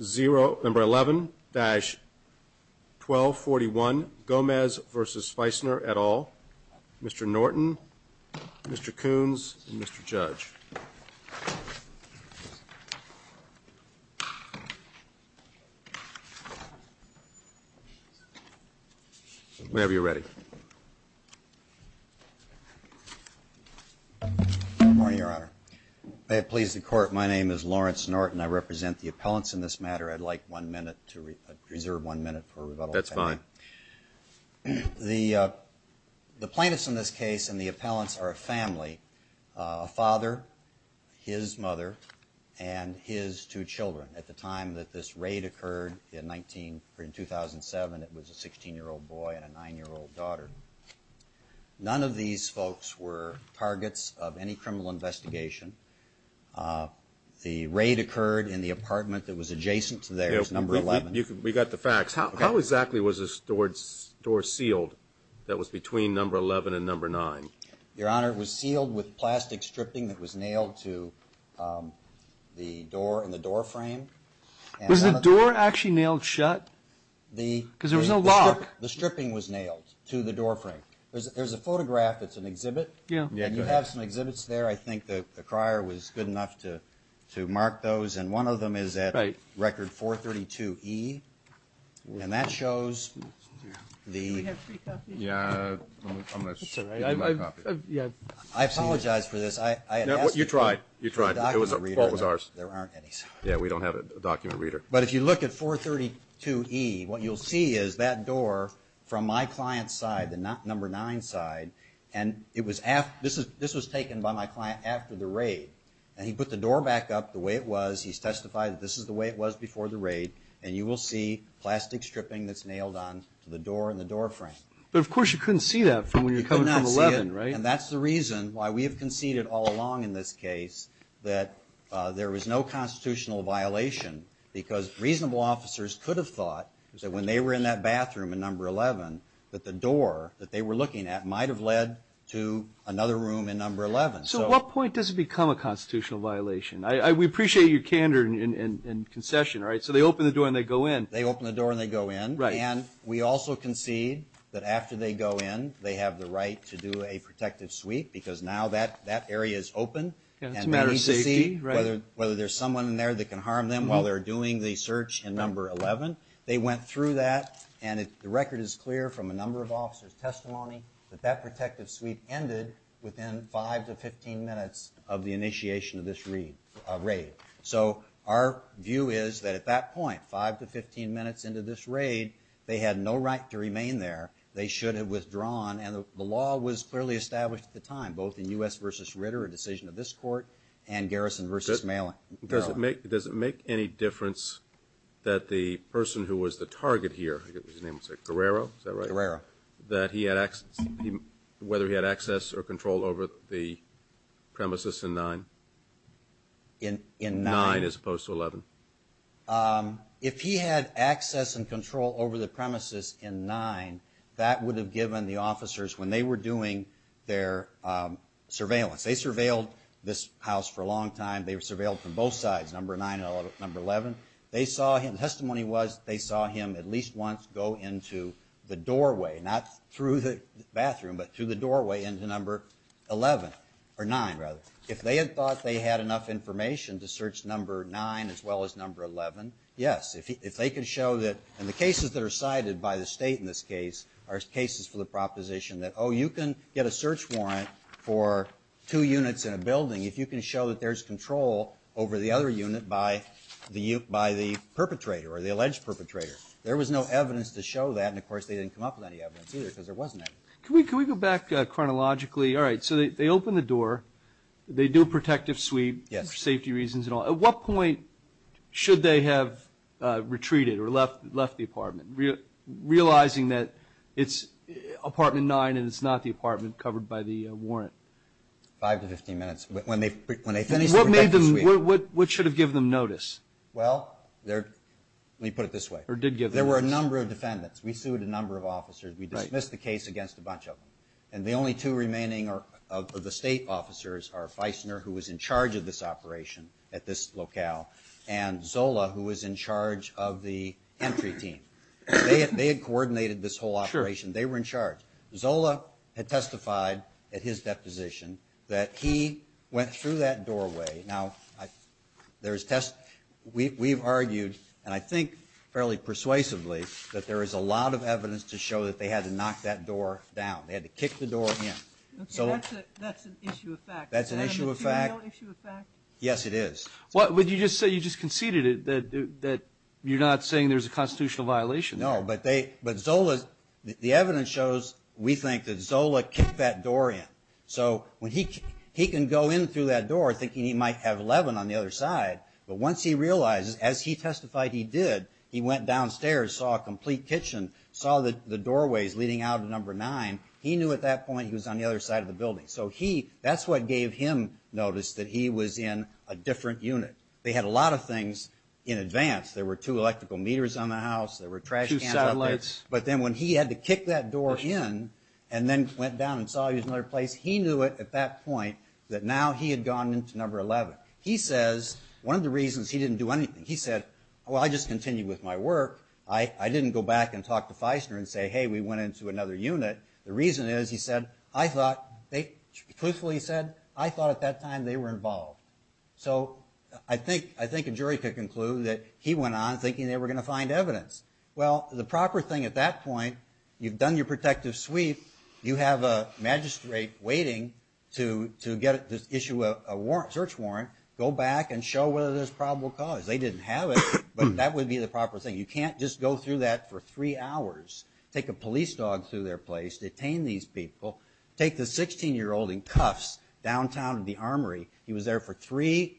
11-1241 Gomez v. Feissner et al. Mr. Norton, Mr. Coons, and Mr. Judge. Whenever you're ready. Good morning, Your Honor. May it please the court, my name is Lawrence Norton. I represent the appellants in this matter. I'd like one minute to reserve one minute for rebuttal. That's fine. The plaintiffs in this case and the appellants are a family, a father, his mother, and his two children. At the time that this raid occurred in 2007, it was a 16-year-old boy and a 9-year-old daughter. None of these folks were targets of any criminal investigation. The raid occurred in the apartment that was adjacent to theirs, number 11. We've got the facts. How exactly was this door sealed that was between number 11 and number 9? Your Honor, it was sealed with plastic stripping that was nailed to the door and the door frame. Was the door actually nailed shut? Because there was no lock. The stripping was nailed to the door frame. There's a photograph that's an exhibit. You have some exhibits there. I think the crier was good enough to mark those. One of them is at record 432E. And that shows the... Do we have free copy? Yeah, I'm going to give you my copy. I apologize for this. You tried. What was ours? There aren't any. Yeah, we don't have a document reader. But if you look at 432E, what you'll see is that door from my client's side, the number 9 side, and this was taken by my client after the raid. And he put the door back up the way it was. He's testified that this is the way it was before the raid. And you will see plastic stripping that's nailed on to the door and the door frame. But, of course, you couldn't see that from when you're coming from 11, right? You could not see it. And that's the reason why we have conceded all along in this case that there was no constitutional violation because reasonable officers could have thought that when they were in that bathroom in number 11 that the door that they were looking at might have led to another room in number 11. So at what point does it become a constitutional violation? We appreciate your candor and concession, right? So they open the door and they go in. They open the door and they go in. And we also concede that after they go in, they have the right to do a protective sweep because now that area is open. It's a matter of safety. Whether there's someone in there that can harm them while they're doing the search in number 11. that that protective sweep ended within 5 to 15 minutes of the initiation of this raid. So our view is that at that point, 5 to 15 minutes into this raid, they had no right to remain there. They should have withdrawn. And the law was clearly established at the time, both in U.S. v. Ritter, a decision of this court, and Garrison v. Merrill. Does it make any difference that the person who was the target here, his name was Guerrero, is that right? Guerrero. That he had access or control over the premises in 9? In 9. 9 as opposed to 11. If he had access and control over the premises in 9, that would have given the officers, when they were doing their surveillance. They surveilled this house for a long time. They surveilled from both sides, number 9 and number 11. They saw him, testimony was they saw him at least once go into the doorway. Not through the bathroom, but through the doorway into number 11. Or 9, rather. If they had thought they had enough information to search number 9 as well as number 11, yes. If they could show that, and the cases that are cited by the state in this case are cases for the proposition that, oh, you can get a search warrant for two units in a building if you can show that there's control over the other unit by the perpetrator or the alleged perpetrator. There was no evidence to show that, and, of course, they didn't come up with any evidence either because there wasn't any. Can we go back chronologically? All right, so they open the door. They do a protective sweep. Yes. For safety reasons and all. At what point should they have retreated or left the apartment, realizing that it's apartment 9 and it's not the apartment covered by the warrant? Five to 15 minutes. What should have given them notice? Well, let me put it this way. Or did give them notice. There were a number of defendants. We sued a number of officers. We dismissed the case against a bunch of them. And the only two remaining of the state officers are Feissner, who was in charge of this operation at this locale, and Zola, who was in charge of the entry team. They had coordinated this whole operation. They were in charge. Zola had testified at his deposition that he went through that doorway. Now, we've argued, and I think fairly persuasively, that there is a lot of evidence to show that they had to knock that door down. They had to kick the door in. Okay, that's an issue of fact. That's an issue of fact. Is that a material issue of fact? Yes, it is. Well, you just conceded that you're not saying there's a constitutional violation there. No, but Zola, the evidence shows, we think, that Zola kicked that door in. So he can go in through that door thinking he might have 11 on the other side. But once he realizes, as he testified he did, he went downstairs, saw a complete kitchen, saw the doorways leading out to number nine, he knew at that point he was on the other side of the building. So that's what gave him notice that he was in a different unit. They had a lot of things in advance. There were two electrical meters on the house. There were trash cans up there. Two satellites. But then when he had to kick that door in and then went down and saw he was in another place, he knew it at that point that now he had gone into number 11. He says one of the reasons he didn't do anything, he said, well, I just continued with my work. I didn't go back and talk to Feisner and say, hey, we went into another unit. The reason is, he said, I thought, truthfully he said, I thought at that time they were involved. So I think a jury could conclude that he went on thinking they were going to find evidence. Well, the proper thing at that point, you've done your protective sweep, you have a magistrate waiting to issue a search warrant, go back and show whether there's probable cause. They didn't have it, but that would be the proper thing. You can't just go through that for three hours, take a police dog through their place, detain these people, take the 16-year-old in cuffs downtown to the armory. He was there for three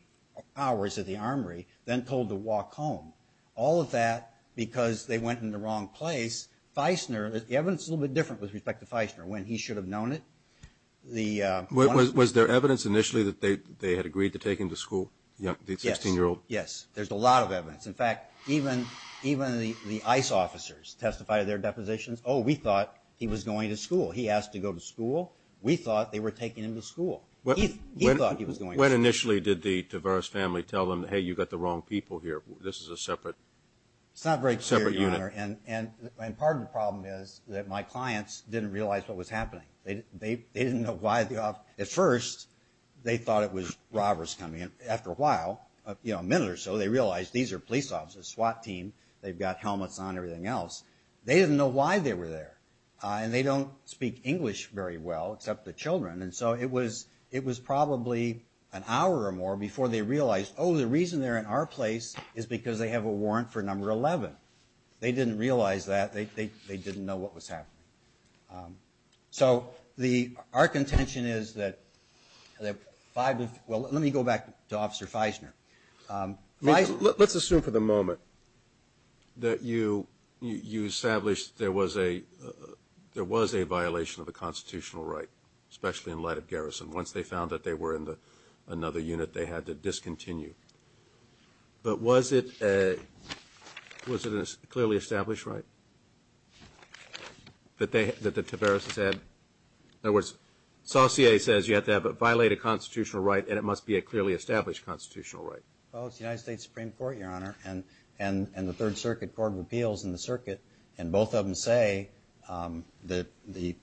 hours at the armory, then told to walk home. All of that because they went in the wrong place. Feisner, the evidence is a little bit different with respect to Feisner, when he should have known it. Was there evidence initially that they had agreed to take him to school, the 16-year-old? Yes. There's a lot of evidence. In fact, even the ICE officers testified their depositions. Oh, we thought he was going to school. He asked to go to school. We thought they were taking him to school. He thought he was going to school. When initially did the Tavares family tell them, hey, you've got the wrong people here? This is a separate unit. It's not very clear, Your Honor, and part of the problem is that my clients didn't realize what was happening. They didn't know why the officer – at first, they thought it was robbers coming in. After a while, a minute or so, they realized these are police officers, SWAT team. They've got helmets on and everything else. They didn't know why they were there. And they don't speak English very well, except the children, and so it was probably an hour or more before they realized, oh, the reason they're in our place is because they have a warrant for number 11. They didn't realize that. They didn't know what was happening. So our contention is that five of – well, let me go back to Officer Feisner. Let's assume for the moment that you established there was a violation of the constitutional right, especially in light of garrison. Once they found that they were in another unit, they had to discontinue. But was it a clearly established right that the Tavares said – in other words, you have to violate a constitutional right and it must be a clearly established constitutional right? Well, it's the United States Supreme Court, Your Honor, and the Third Circuit Court of Appeals in the circuit, and both of them say that the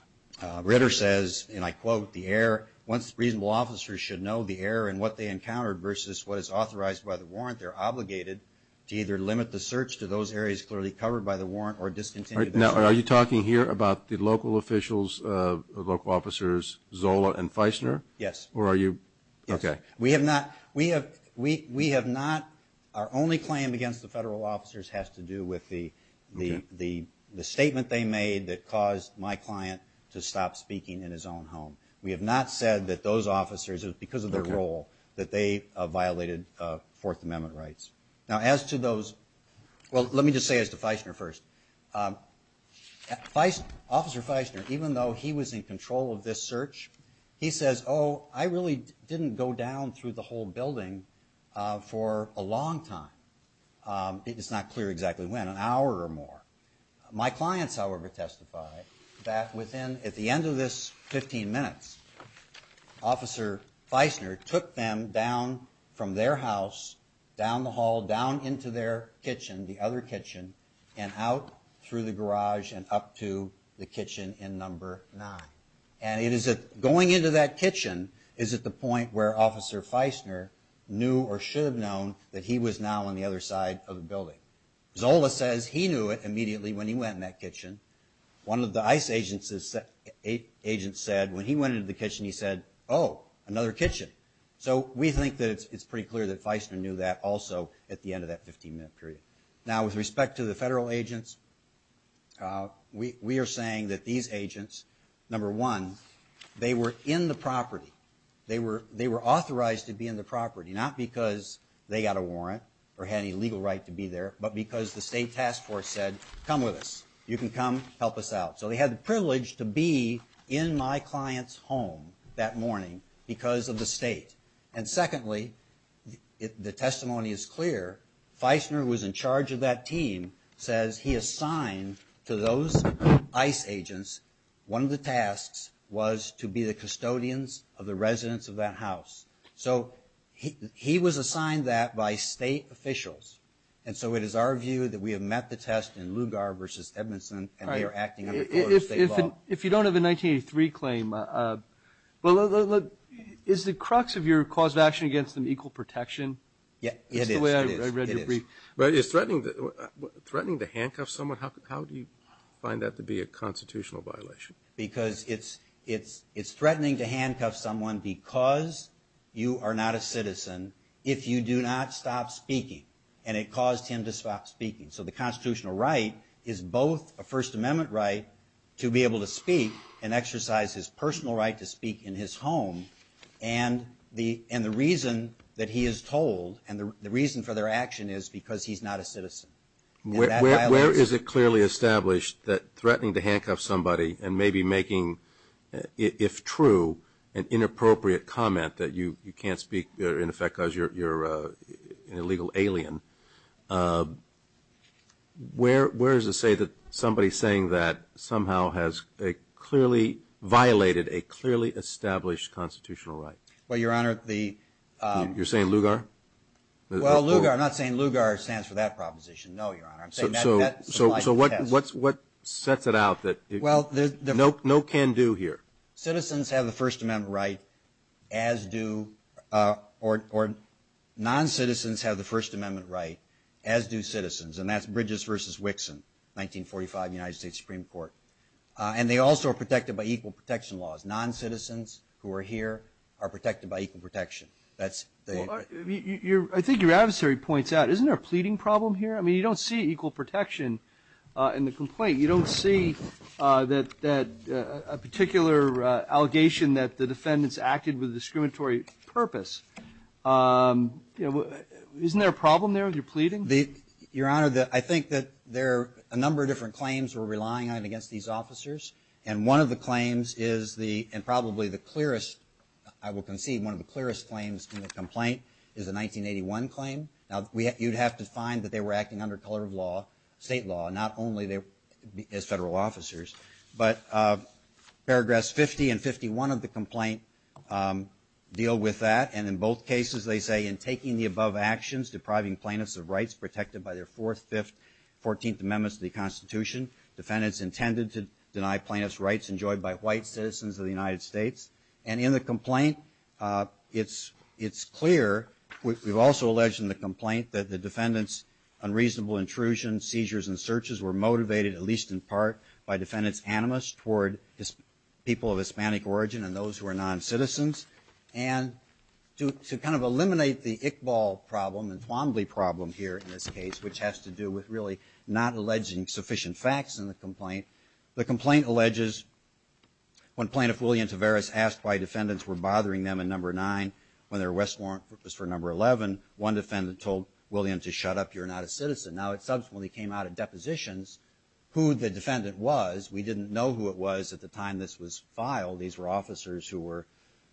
– Ritter says, and I quote, the air – once reasonable officers should know the air and what they encountered versus what is authorized by the warrant, they're obligated to either limit the search to those areas clearly covered by the warrant or discontinue the search. Are you talking here about the local officials, local officers Zola and Feisner? Yes. Or are you – okay. Yes. We have not – our only claim against the federal officers has to do with the statement they made that caused my client to stop speaking in his own home. We have not said that those officers, because of their role, that they violated Fourth Amendment rights. Now, as to those – well, let me just say as to Feisner first. Officer Feisner, even though he was in control of this search, he says, oh, I really didn't go down through the whole building for a long time. It's not clear exactly when, an hour or more. My clients, however, testify that within – at the end of this 15 minutes, Officer Feisner took them down from their house, down the hall, down into their kitchen, the other kitchen, and out through the garage and up to the kitchen in number nine. And it is – going into that kitchen is at the point where Officer Feisner knew or should have known that he was now on the other side of the building. Zola says he knew it immediately when he went in that kitchen. One of the ICE agents said, when he went into the kitchen, he said, oh, another kitchen. So we think that it's pretty clear that Feisner knew that also at the end of that 15-minute period. Now, with respect to the federal agents, we are saying that these agents, number one, they were in the property. They were authorized to be in the property, not because they got a warrant or had any legal right to be there, but because the state task force said, come with us. You can come help us out. So they had the privilege to be in my client's home that morning because of the state. And secondly, the testimony is clear. Feisner, who was in charge of that team, says he assigned to those ICE agents one of the tasks was to be the custodians of the residents of that house. So he was assigned that by state officials. And so it is our view that we have met the test in Lugar versus Edmondson, and they are acting under state law. If you don't have a 1983 claim, is the crux of your cause of action against an equal protection? Yeah, it is. That's the way I read your brief. But is threatening to handcuff someone, how do you find that to be a constitutional violation? Because it's threatening to handcuff someone because you are not a citizen if you do not stop speaking. And it caused him to stop speaking. So the constitutional right is both a First Amendment right to be able to speak and exercise his personal right to speak in his home. And the reason that he is told and the reason for their action is because he's not a citizen. Where is it clearly established that threatening to handcuff somebody and maybe making, if true, an inappropriate comment that you can't speak in effect because you're an illegal alien, where is it said that somebody saying that somehow has clearly violated a clearly established constitutional right? Well, Your Honor, the... You're saying Lugar? Well, Lugar, I'm not saying Lugar stands for that proposition. No, Your Honor. So what sets it out that no can do here? Citizens have the First Amendment right as do, or non-citizens have the First Amendment right as do citizens, and that's Bridges v. Wixon, 1945 United States Supreme Court. And they also are protected by equal protection laws. Non-citizens who are here are protected by equal protection. I think your adversary points out, isn't there a pleading problem here? I mean, you don't see equal protection in the complaint. You don't see that a particular allegation that the defendants acted with a discriminatory purpose. Isn't there a problem there with your pleading? Your Honor, I think that there are a number of different claims we're relying on against these officers, and one of the claims is the, and probably the clearest, I will concede, one of the clearest claims in the complaint is the 1981 claim. Now, you'd have to find that they were acting under color of law, state law, not only as federal officers. But paragraphs 50 and 51 of the complaint deal with that, and in both cases they say, in taking the above actions depriving plaintiffs of rights protected by their Fourth, Fifth, Fourteenth Amendments of the Constitution, defendants intended to deny plaintiffs rights enjoyed by white citizens of the United States. And in the complaint, it's clear, we've also alleged in the complaint, that the defendants' unreasonable intrusion, seizures, and searches were motivated, at least in part, by defendants' animus toward people of Hispanic origin and those who are non-citizens. And to kind of eliminate the Iqbal problem and Twombly problem here in this case, which has to do with really not alleging sufficient facts in the complaint, the complaint alleges when Plaintiff William Tavares asked why defendants were bothering them in Number 9 when their arrest warrant was for Number 11, one defendant told William to shut up, you're not a citizen. Now, it subsequently came out at depositions who the defendant was. We didn't know who it was at the time this was filed. These were officers who were,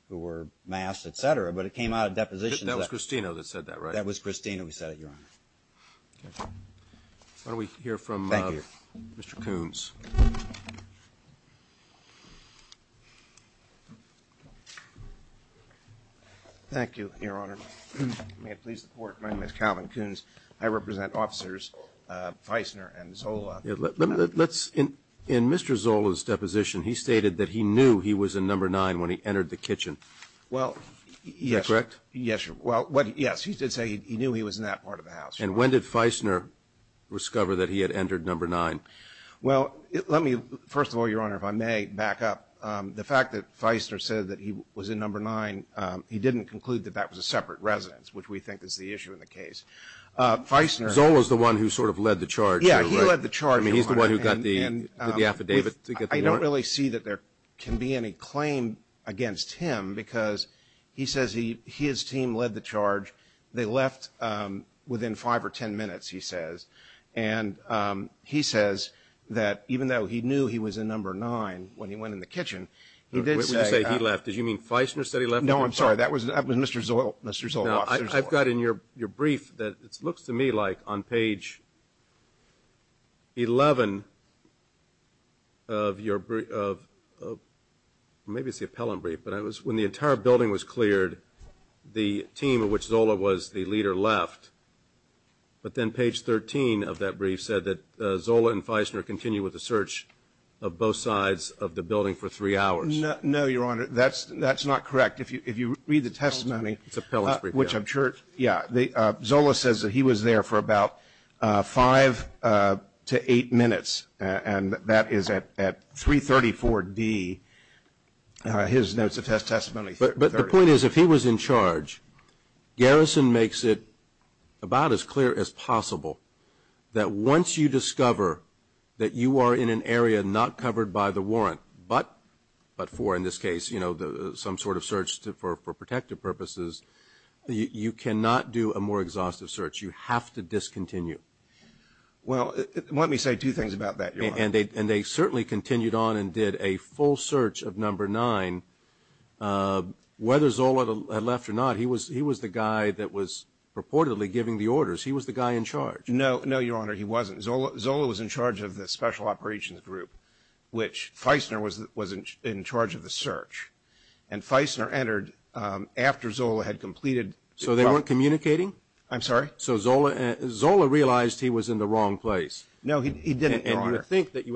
who were masked, et cetera, but it came out at depositions. That was Cristino that said that, right? That was Cristino who said it, Your Honor. Okay. Why don't we hear from Mr. Coons. Thank you, Your Honor. May it please the Court, my name is Calvin Coons. I represent officers Feisner and Zola. Let's, in Mr. Zola's deposition, he stated that he knew he was in Number 9 when he entered the kitchen. Well, yes. Is that correct? Yes, Your Honor. Well, yes, he did say he knew he was in that part of the house. And when did Feisner discover that he had entered Number 9? Well, let me, first of all, Your Honor, if I may back up, the fact that Feisner said that he was in Number 9, he didn't conclude that that was a separate residence, which we think is the issue in the case. Feisner. Zola's the one who sort of led the charge. Yeah, he led the charge, Your Honor. I mean, he's the one who got the affidavit to get the warrant. I don't really see that there can be any claim against him because he says his team led the charge. They left within 5 or 10 minutes, he says. And he says that even though he knew he was in Number 9 when he went in the kitchen, he did say that. When you say he left, did you mean Feisner said he left? No, I'm sorry. That was Mr. Zola, Mr. Zola, Officer Zola. I've got in your brief that it looks to me like on page 11 of your brief, maybe it's the appellant brief, but it was when the entire building was cleared, the team of which Zola was the leader left. But then page 13 of that brief said that Zola and Feisner continued with the search of both sides of the building for 3 hours. No, Your Honor, that's not correct. In fact, if you read the testimony, which I'm sure, yeah, Zola says that he was there for about 5 to 8 minutes, and that is at 334D, his notes of testimony. But the point is if he was in charge, Garrison makes it about as clear as possible that once you discover that you are in an area not covered by the warrant but for, in this case, some sort of search for protective purposes, you cannot do a more exhaustive search. You have to discontinue. Well, let me say two things about that, Your Honor. And they certainly continued on and did a full search of number 9. Whether Zola had left or not, he was the guy that was purportedly giving the orders. He was the guy in charge. No, Your Honor, he wasn't. Zola was in charge of the special operations group, which Feisner was in charge of the search. And Feisner entered after Zola had completed. So they weren't communicating? I'm sorry? So Zola realized he was in the wrong place. No, he didn't, Your Honor. And you would think that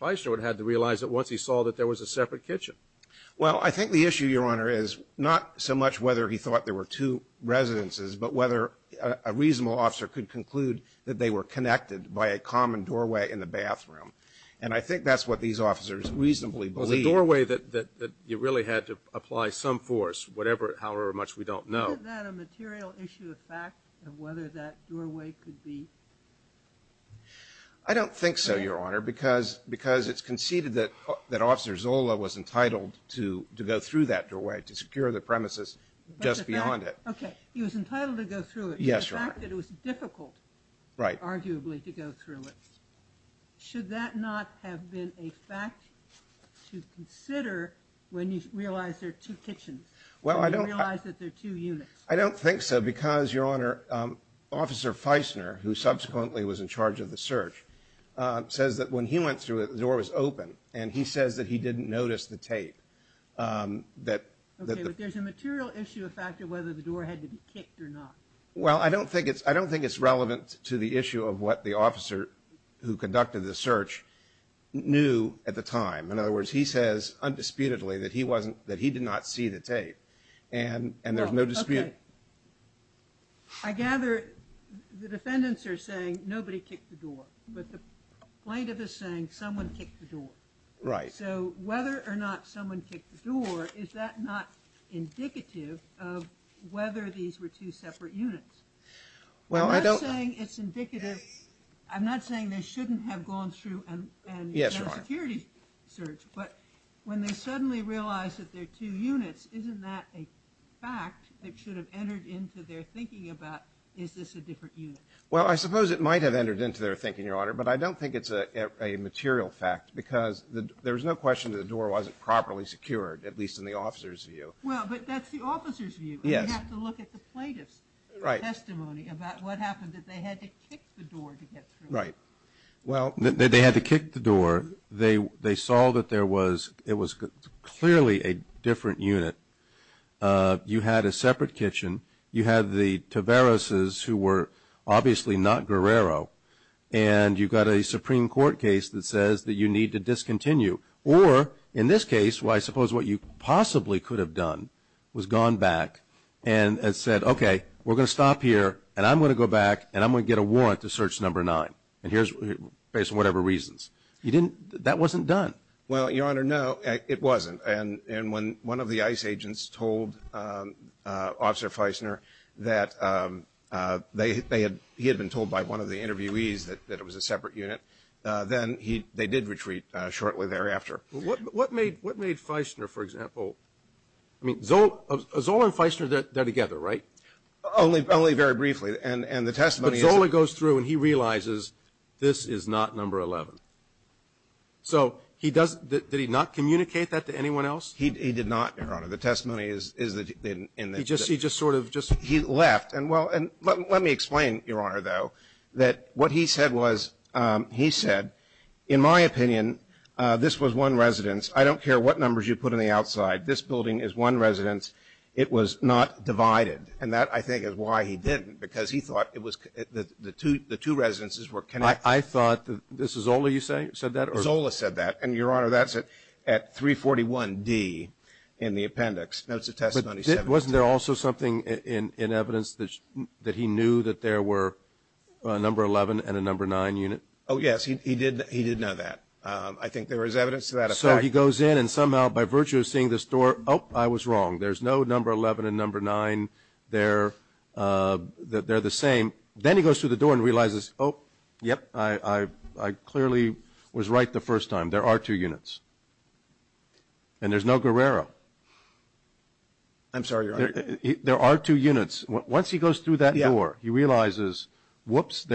Feisner would have to realize that once he saw that there was a separate kitchen. Well, I think the issue, Your Honor, is not so much whether he thought there were two residences but whether a reasonable officer could conclude that they were connected by a common doorway in the bathroom. And I think that's what these officers reasonably believed. Well, the doorway that you really had to apply some force, however much we don't know. Isn't that a material issue of fact of whether that doorway could be? I don't think so, Your Honor, because it's conceded that Officer Zola was entitled to go through that doorway, to secure the premises just beyond it. Okay. He was entitled to go through it. Yes, Your Honor. The fact that it was difficult, arguably, to go through it. Should that not have been a fact to consider when you realize there are two kitchens, when you realize that there are two units? I don't think so because, Your Honor, Officer Feisner, who subsequently was in charge of the search, says that when he went through it, the door was open. And he says that he didn't notice the tape. Okay, but there's a material issue of fact of whether the door had to be kicked or not. Well, I don't think it's relevant to the issue of what the officer who conducted the search knew at the time. In other words, he says, undisputedly, that he did not see the tape. And there's no dispute. I gather the defendants are saying nobody kicked the door. But the plaintiff is saying someone kicked the door. Right. So whether or not someone kicked the door, is that not indicative of whether these were two separate units? I'm not saying it's indicative. I'm not saying they shouldn't have gone through and done a security search. But when they suddenly realize that there are two units, isn't that a fact that should have entered into their thinking about, is this a different unit? Well, I suppose it might have entered into their thinking, Your Honor. But I don't think it's a material fact because there's no question that the door wasn't properly secured, at least in the officer's view. Well, but that's the officer's view. Yes. And we have to look at the plaintiff's testimony about what happened, that they had to kick the door to get through. Right. Well, they had to kick the door. They saw that there was clearly a different unit. You had a separate kitchen. You had the Taverases, who were obviously not Guerrero. And you've got a Supreme Court case that says that you need to discontinue. Or, in this case, I suppose what you possibly could have done was gone back and said, okay, we're going to stop here, and I'm going to go back, and I'm going to get a warrant to search number nine, based on whatever reasons. That wasn't done. Well, Your Honor, no, it wasn't. And when one of the ICE agents told Officer Feisner that he had been told by one of the interviewees that it was a separate unit, then they did retreat shortly thereafter. What made Feisner, for example – I mean, Zola and Feisner, they're together, right? Only very briefly. But Zola goes through, and he realizes this is not number 11. So he does – did he not communicate that to anyone else? He did not, Your Honor. The testimony is that he didn't. He just sort of just – He left. And, well, let me explain, Your Honor, though, that what he said was – he said, in my opinion, this was one residence. I don't care what numbers you put on the outside. This building is one residence. It was not divided. And that, I think, is why he didn't, because he thought it was – the two residences were connected. I thought that – Zola, you said that? Zola said that. And, Your Honor, that's at 341D in the appendix. Notes of testimony – But wasn't there also something in evidence that he knew that there were a number 11 and a number 9 unit? Oh, yes. He did know that. I think there was evidence to that effect. So he goes in, and somehow, by virtue of seeing this door – oh, I was wrong. There's no number 11 and number 9 there. They're the same. Then he goes through the door and realizes, oh, yep, I clearly was right the first time. There are two units. And there's no Guerrero. I'm sorry, Your Honor. There are two units. Once he goes through that door, he realizes, whoops,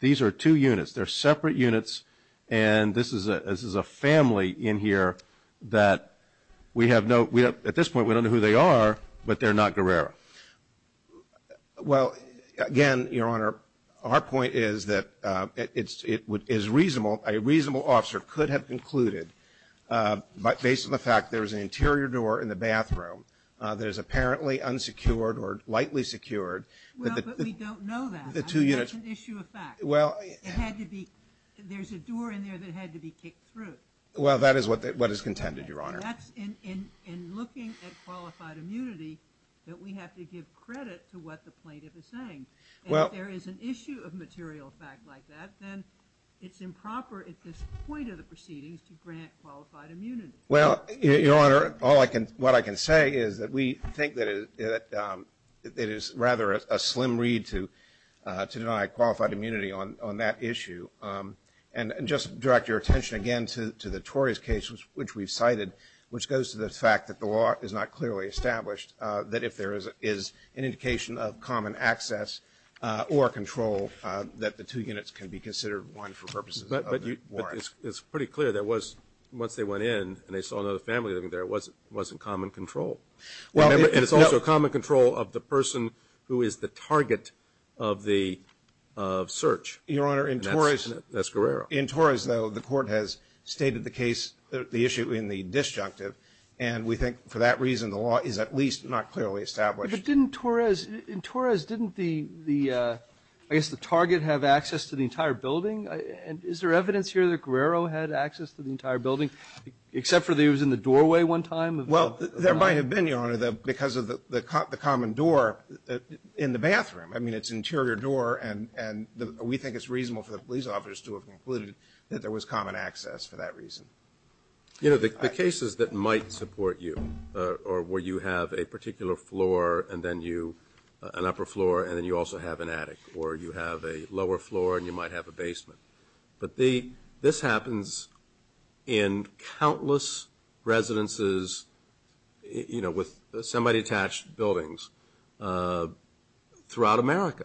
these are two units. They're separate units, and this is a family in here that we have no – at this point, we don't know who they are, but they're not Guerrero. Well, again, Your Honor, our point is that it is reasonable – a reasonable officer could have concluded, based on the fact there's an interior door in the bathroom that is apparently unsecured or lightly secured. Well, but we don't know that. The two units – That's an issue of fact. Well – It had to be – there's a door in there that had to be kicked through. Well, that is what is contended, Your Honor. That's in looking at qualified immunity that we have to give credit to what the plaintiff is saying. Well – And if there is an issue of material fact like that, then it's improper at this point of the proceedings to grant qualified immunity. Well, Your Honor, all I can – what I can say is that we think that it is rather a slim read to deny qualified immunity on that issue. And just direct your attention again to the Torres case, which we've cited, which goes to the fact that the law is not clearly established, that if there is an indication of common access or control, that the two units can be considered one for purposes of the warrant. But it's pretty clear that once they went in and they saw another family living there, it wasn't common control. Well – And it's also common control of the person who is the target of the search. Your Honor, in Torres – That's Guerrero. In Torres, though, the court has stated the case – the issue in the disjunctive, and we think for that reason the law is at least not clearly established. But didn't Torres – in Torres, didn't the – I guess the target have access to the entire building? Is there evidence here that Guerrero had access to the entire building, except for that he was in the doorway one time? Well, there might have been, Your Honor, because of the common door in the bathroom. I mean, it's an interior door, and we think it's reasonable for the police officers to have concluded that there was common access for that reason. You know, the cases that might support you, or where you have a particular floor and then you – an upper floor and then you also have an attic, or you have a lower floor and you might have a basement. But this happens in countless residences, you know, with semi-detached buildings. Throughout America.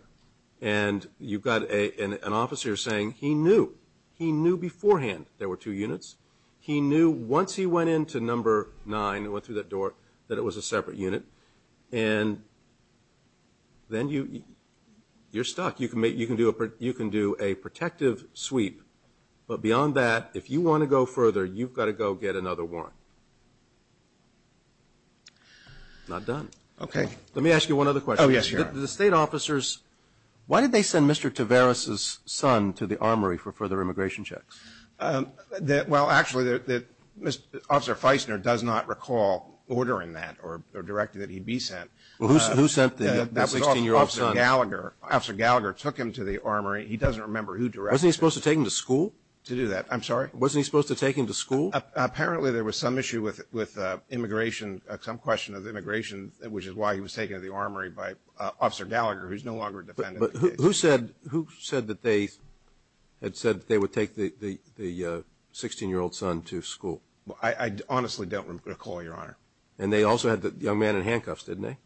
And you've got an officer saying he knew. He knew beforehand there were two units. He knew once he went into number nine and went through that door that it was a separate unit. And then you're stuck. You can do a protective sweep, but beyond that, if you want to go further, you've got to go get another warrant. Not done. Okay. Let me ask you one other question. Oh, yes, Your Honor. The state officers, why did they send Mr. Tavares' son to the armory for further immigration checks? Well, actually, Officer Feisner does not recall ordering that or directing that he be sent. Who sent the 16-year-old son? That was Officer Gallagher. Officer Gallagher took him to the armory. He doesn't remember who directed it. Wasn't he supposed to take him to school? To do that. I'm sorry? Wasn't he supposed to take him to school? Apparently there was some issue with immigration, some question of immigration, which is why he was taken to the armory by Officer Gallagher, who's no longer a defendant. But who said that they had said that they would take the 16-year-old son to school? I honestly don't recall, Your Honor. And they also had the young man in handcuffs, didn't they?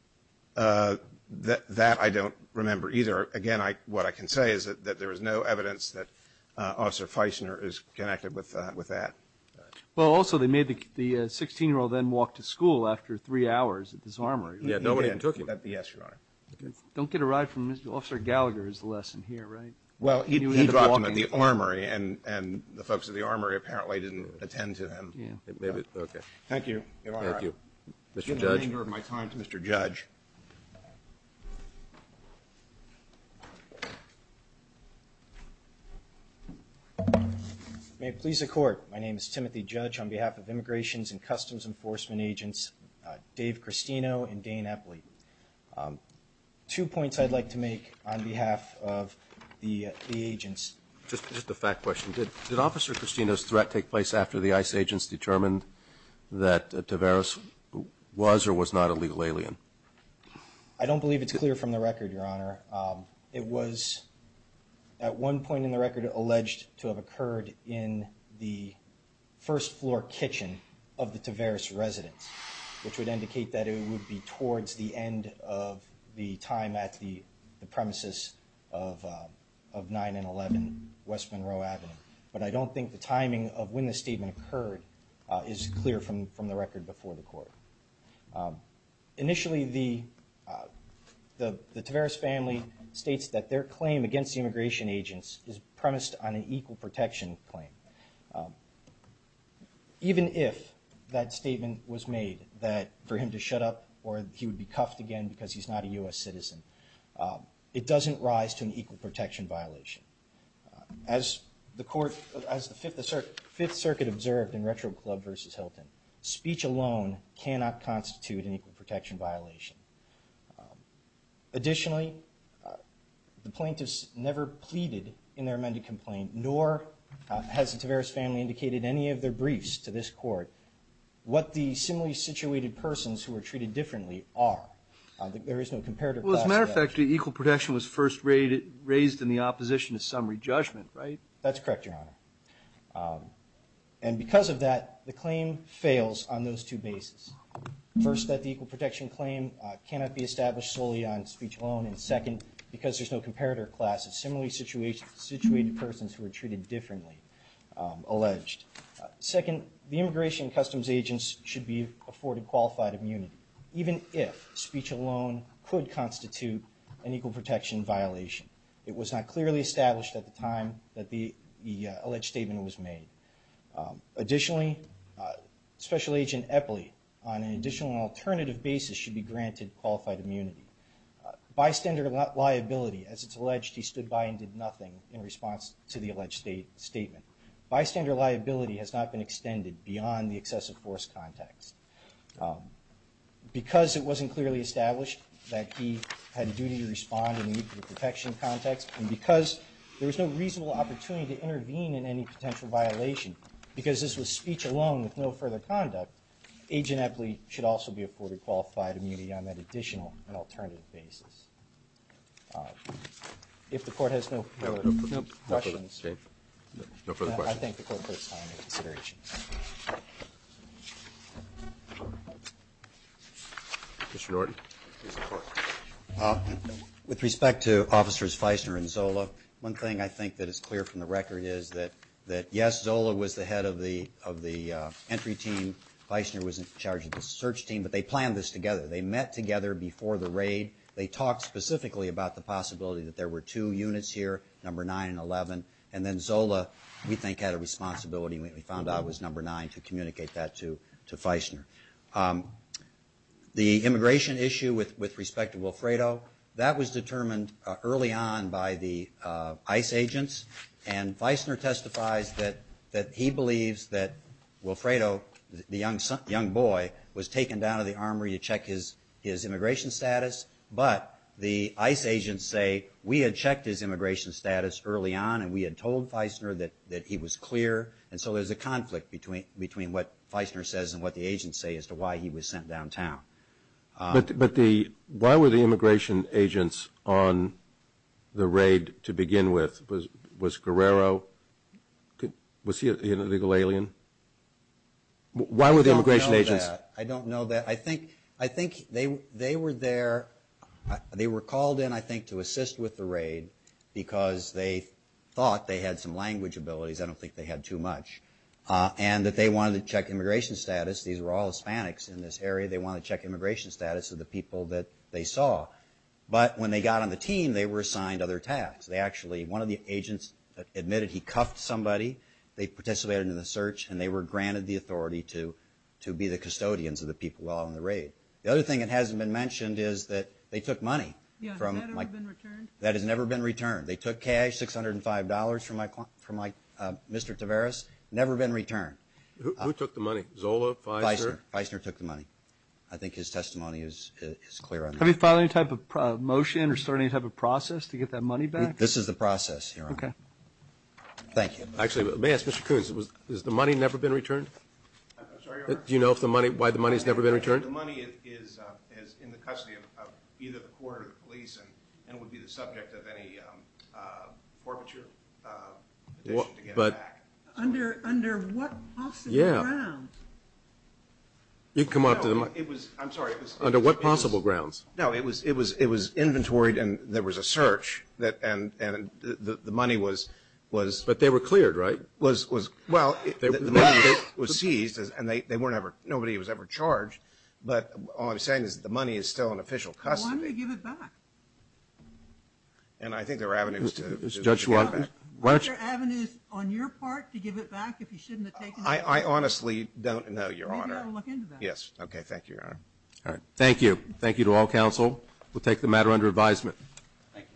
That I don't remember either. Again, what I can say is that there is no evidence that Officer Feisner is connected with that. Well, also, they made the 16-year-old then walk to school after three hours at this armory. Yeah, nobody even took him. Yes, Your Honor. Don't get it right from Officer Gallagher is the lesson here, right? Well, he dropped him at the armory, and the folks at the armory apparently didn't attend to him. Thank you, Your Honor. Thank you. Mr. Judge? At the danger of my time, Mr. Judge. May it please the Court, my name is Timothy Judge. On behalf of Immigrations and Customs Enforcement Agents Dave Cristino and Dane Epley. Two points I'd like to make on behalf of the agents. Just a fact question. Did Officer Cristino's threat take place after the ICE agents determined that Taveras was or was not a legal alien? I don't believe it's clear from the record, Your Honor. It was at one point in the record alleged to have occurred in the first floor kitchen of the Taveras residence, which would indicate that it would be towards the end of the time at the premises of 9 and 11 West Monroe Avenue. But I don't think the timing of when the statement occurred is clear from the record before the Court. Initially, the Taveras family states that their claim against the immigration agents is premised on an equal protection claim. Even if that statement was made that for him to shut up or he would be cuffed again because he's not a U.S. citizen, it doesn't rise to an equal protection violation. As the Court, as the Fifth Circuit observed in Retro Club v. Hilton, speech alone cannot constitute an equal protection violation. Additionally, the plaintiffs never pleaded in their amended complaint, nor has the Taveras family indicated in any of their briefs to this Court what the similarly situated persons who were treated differently are. There is no comparative classification. Well, as a matter of fact, the equal protection was first raised in the opposition to summary judgment, right? That's correct, Your Honor. And because of that, the claim fails on those two bases. First, that the equal protection claim cannot be established solely on speech alone, and second, because there's no comparative class of similarly situated persons who are treated differently, alleged. Second, the immigration customs agents should be afforded qualified immunity, even if speech alone could constitute an equal protection violation. It was not clearly established at the time that the alleged statement was made. Additionally, Special Agent Epley, on an additional and alternative basis, should be granted qualified immunity. Bystander liability, as it's alleged, he stood by and did nothing in response to the alleged statement. Bystander liability has not been extended beyond the excessive force context. Because it wasn't clearly established that he had a duty to respond in the equal protection context, and because there was no reasonable opportunity to intervene in any potential violation, because this was speech alone with no further conduct, Agent Epley should also be afforded qualified immunity on that additional and alternative basis. If the Court has no further questions. No further questions. I thank the Court for its time and consideration. Mr. Norton. With respect to Officers Feisner and Zola, one thing I think that is clear from the record is that, yes, Zola was the head of the entry team, Feisner was in charge of the search team, but they planned this together. They met together before the raid. They talked specifically about the possibility that there were two units here, number 9 and 11, and then Zola, we think, had a responsibility, and we found out it was number 9, to communicate that to Feisner. The immigration issue with respect to Wilfredo, that was determined early on by the ICE agents, and Feisner testifies that he believes that Wilfredo, the young boy, was taken down to the armory to check his immigration status, but the ICE agents say, we had checked his immigration status early on and we had told Feisner that he was clear, and so there's a conflict between what Feisner says and what the agents say as to why he was sent downtown. But why were the immigration agents on the raid to begin with? Was Guerrero, was he an illegal alien? Why were the immigration agents? I don't know that. I think they were there, they were called in, I think, to assist with the raid because they thought they had some language abilities. I don't think they had too much. And that they wanted to check immigration status. These were all Hispanics in this area. They wanted to check immigration status of the people that they saw. But when they got on the team, they were assigned other tasks. They actually, one of the agents admitted he cuffed somebody. They participated in the search and they were granted the authority to be the custodians of the people while on the raid. The other thing that hasn't been mentioned is that they took money. Yeah, has that ever been returned? That has never been returned. They took cash, $605 from Mr. Tavares, never been returned. Who took the money, Zola, Feisner? Feisner took the money. I think his testimony is clear on that. Have you filed any type of motion or started any type of process to get that money back? This is the process, Your Honor. Okay. Thank you. Actually, may I ask, Mr. Coons, has the money never been returned? I'm sorry, Your Honor? Do you know why the money has never been returned? The money is in the custody of either the court or the police and it would be the subject of any forfeiture petition to get it back. Under what possible grounds? You can come up to the mic. I'm sorry. Under what possible grounds? No, it was inventoried and there was a search and the money was – But they were cleared, right? Well, the money was seized and nobody was ever charged, but all I'm saying is the money is still in official custody. Why don't you give it back? And I think there are avenues to give it back. Judge Schwartz. Aren't there avenues on your part to give it back if you shouldn't have taken it? I honestly don't know, Your Honor. Maybe I'll look into that. Yes. Okay. Thank you, Your Honor. All right. Thank you. Thank you to all counsel. We'll take the matter under advisement. Thank you. Thank you. Thank you. Thank you.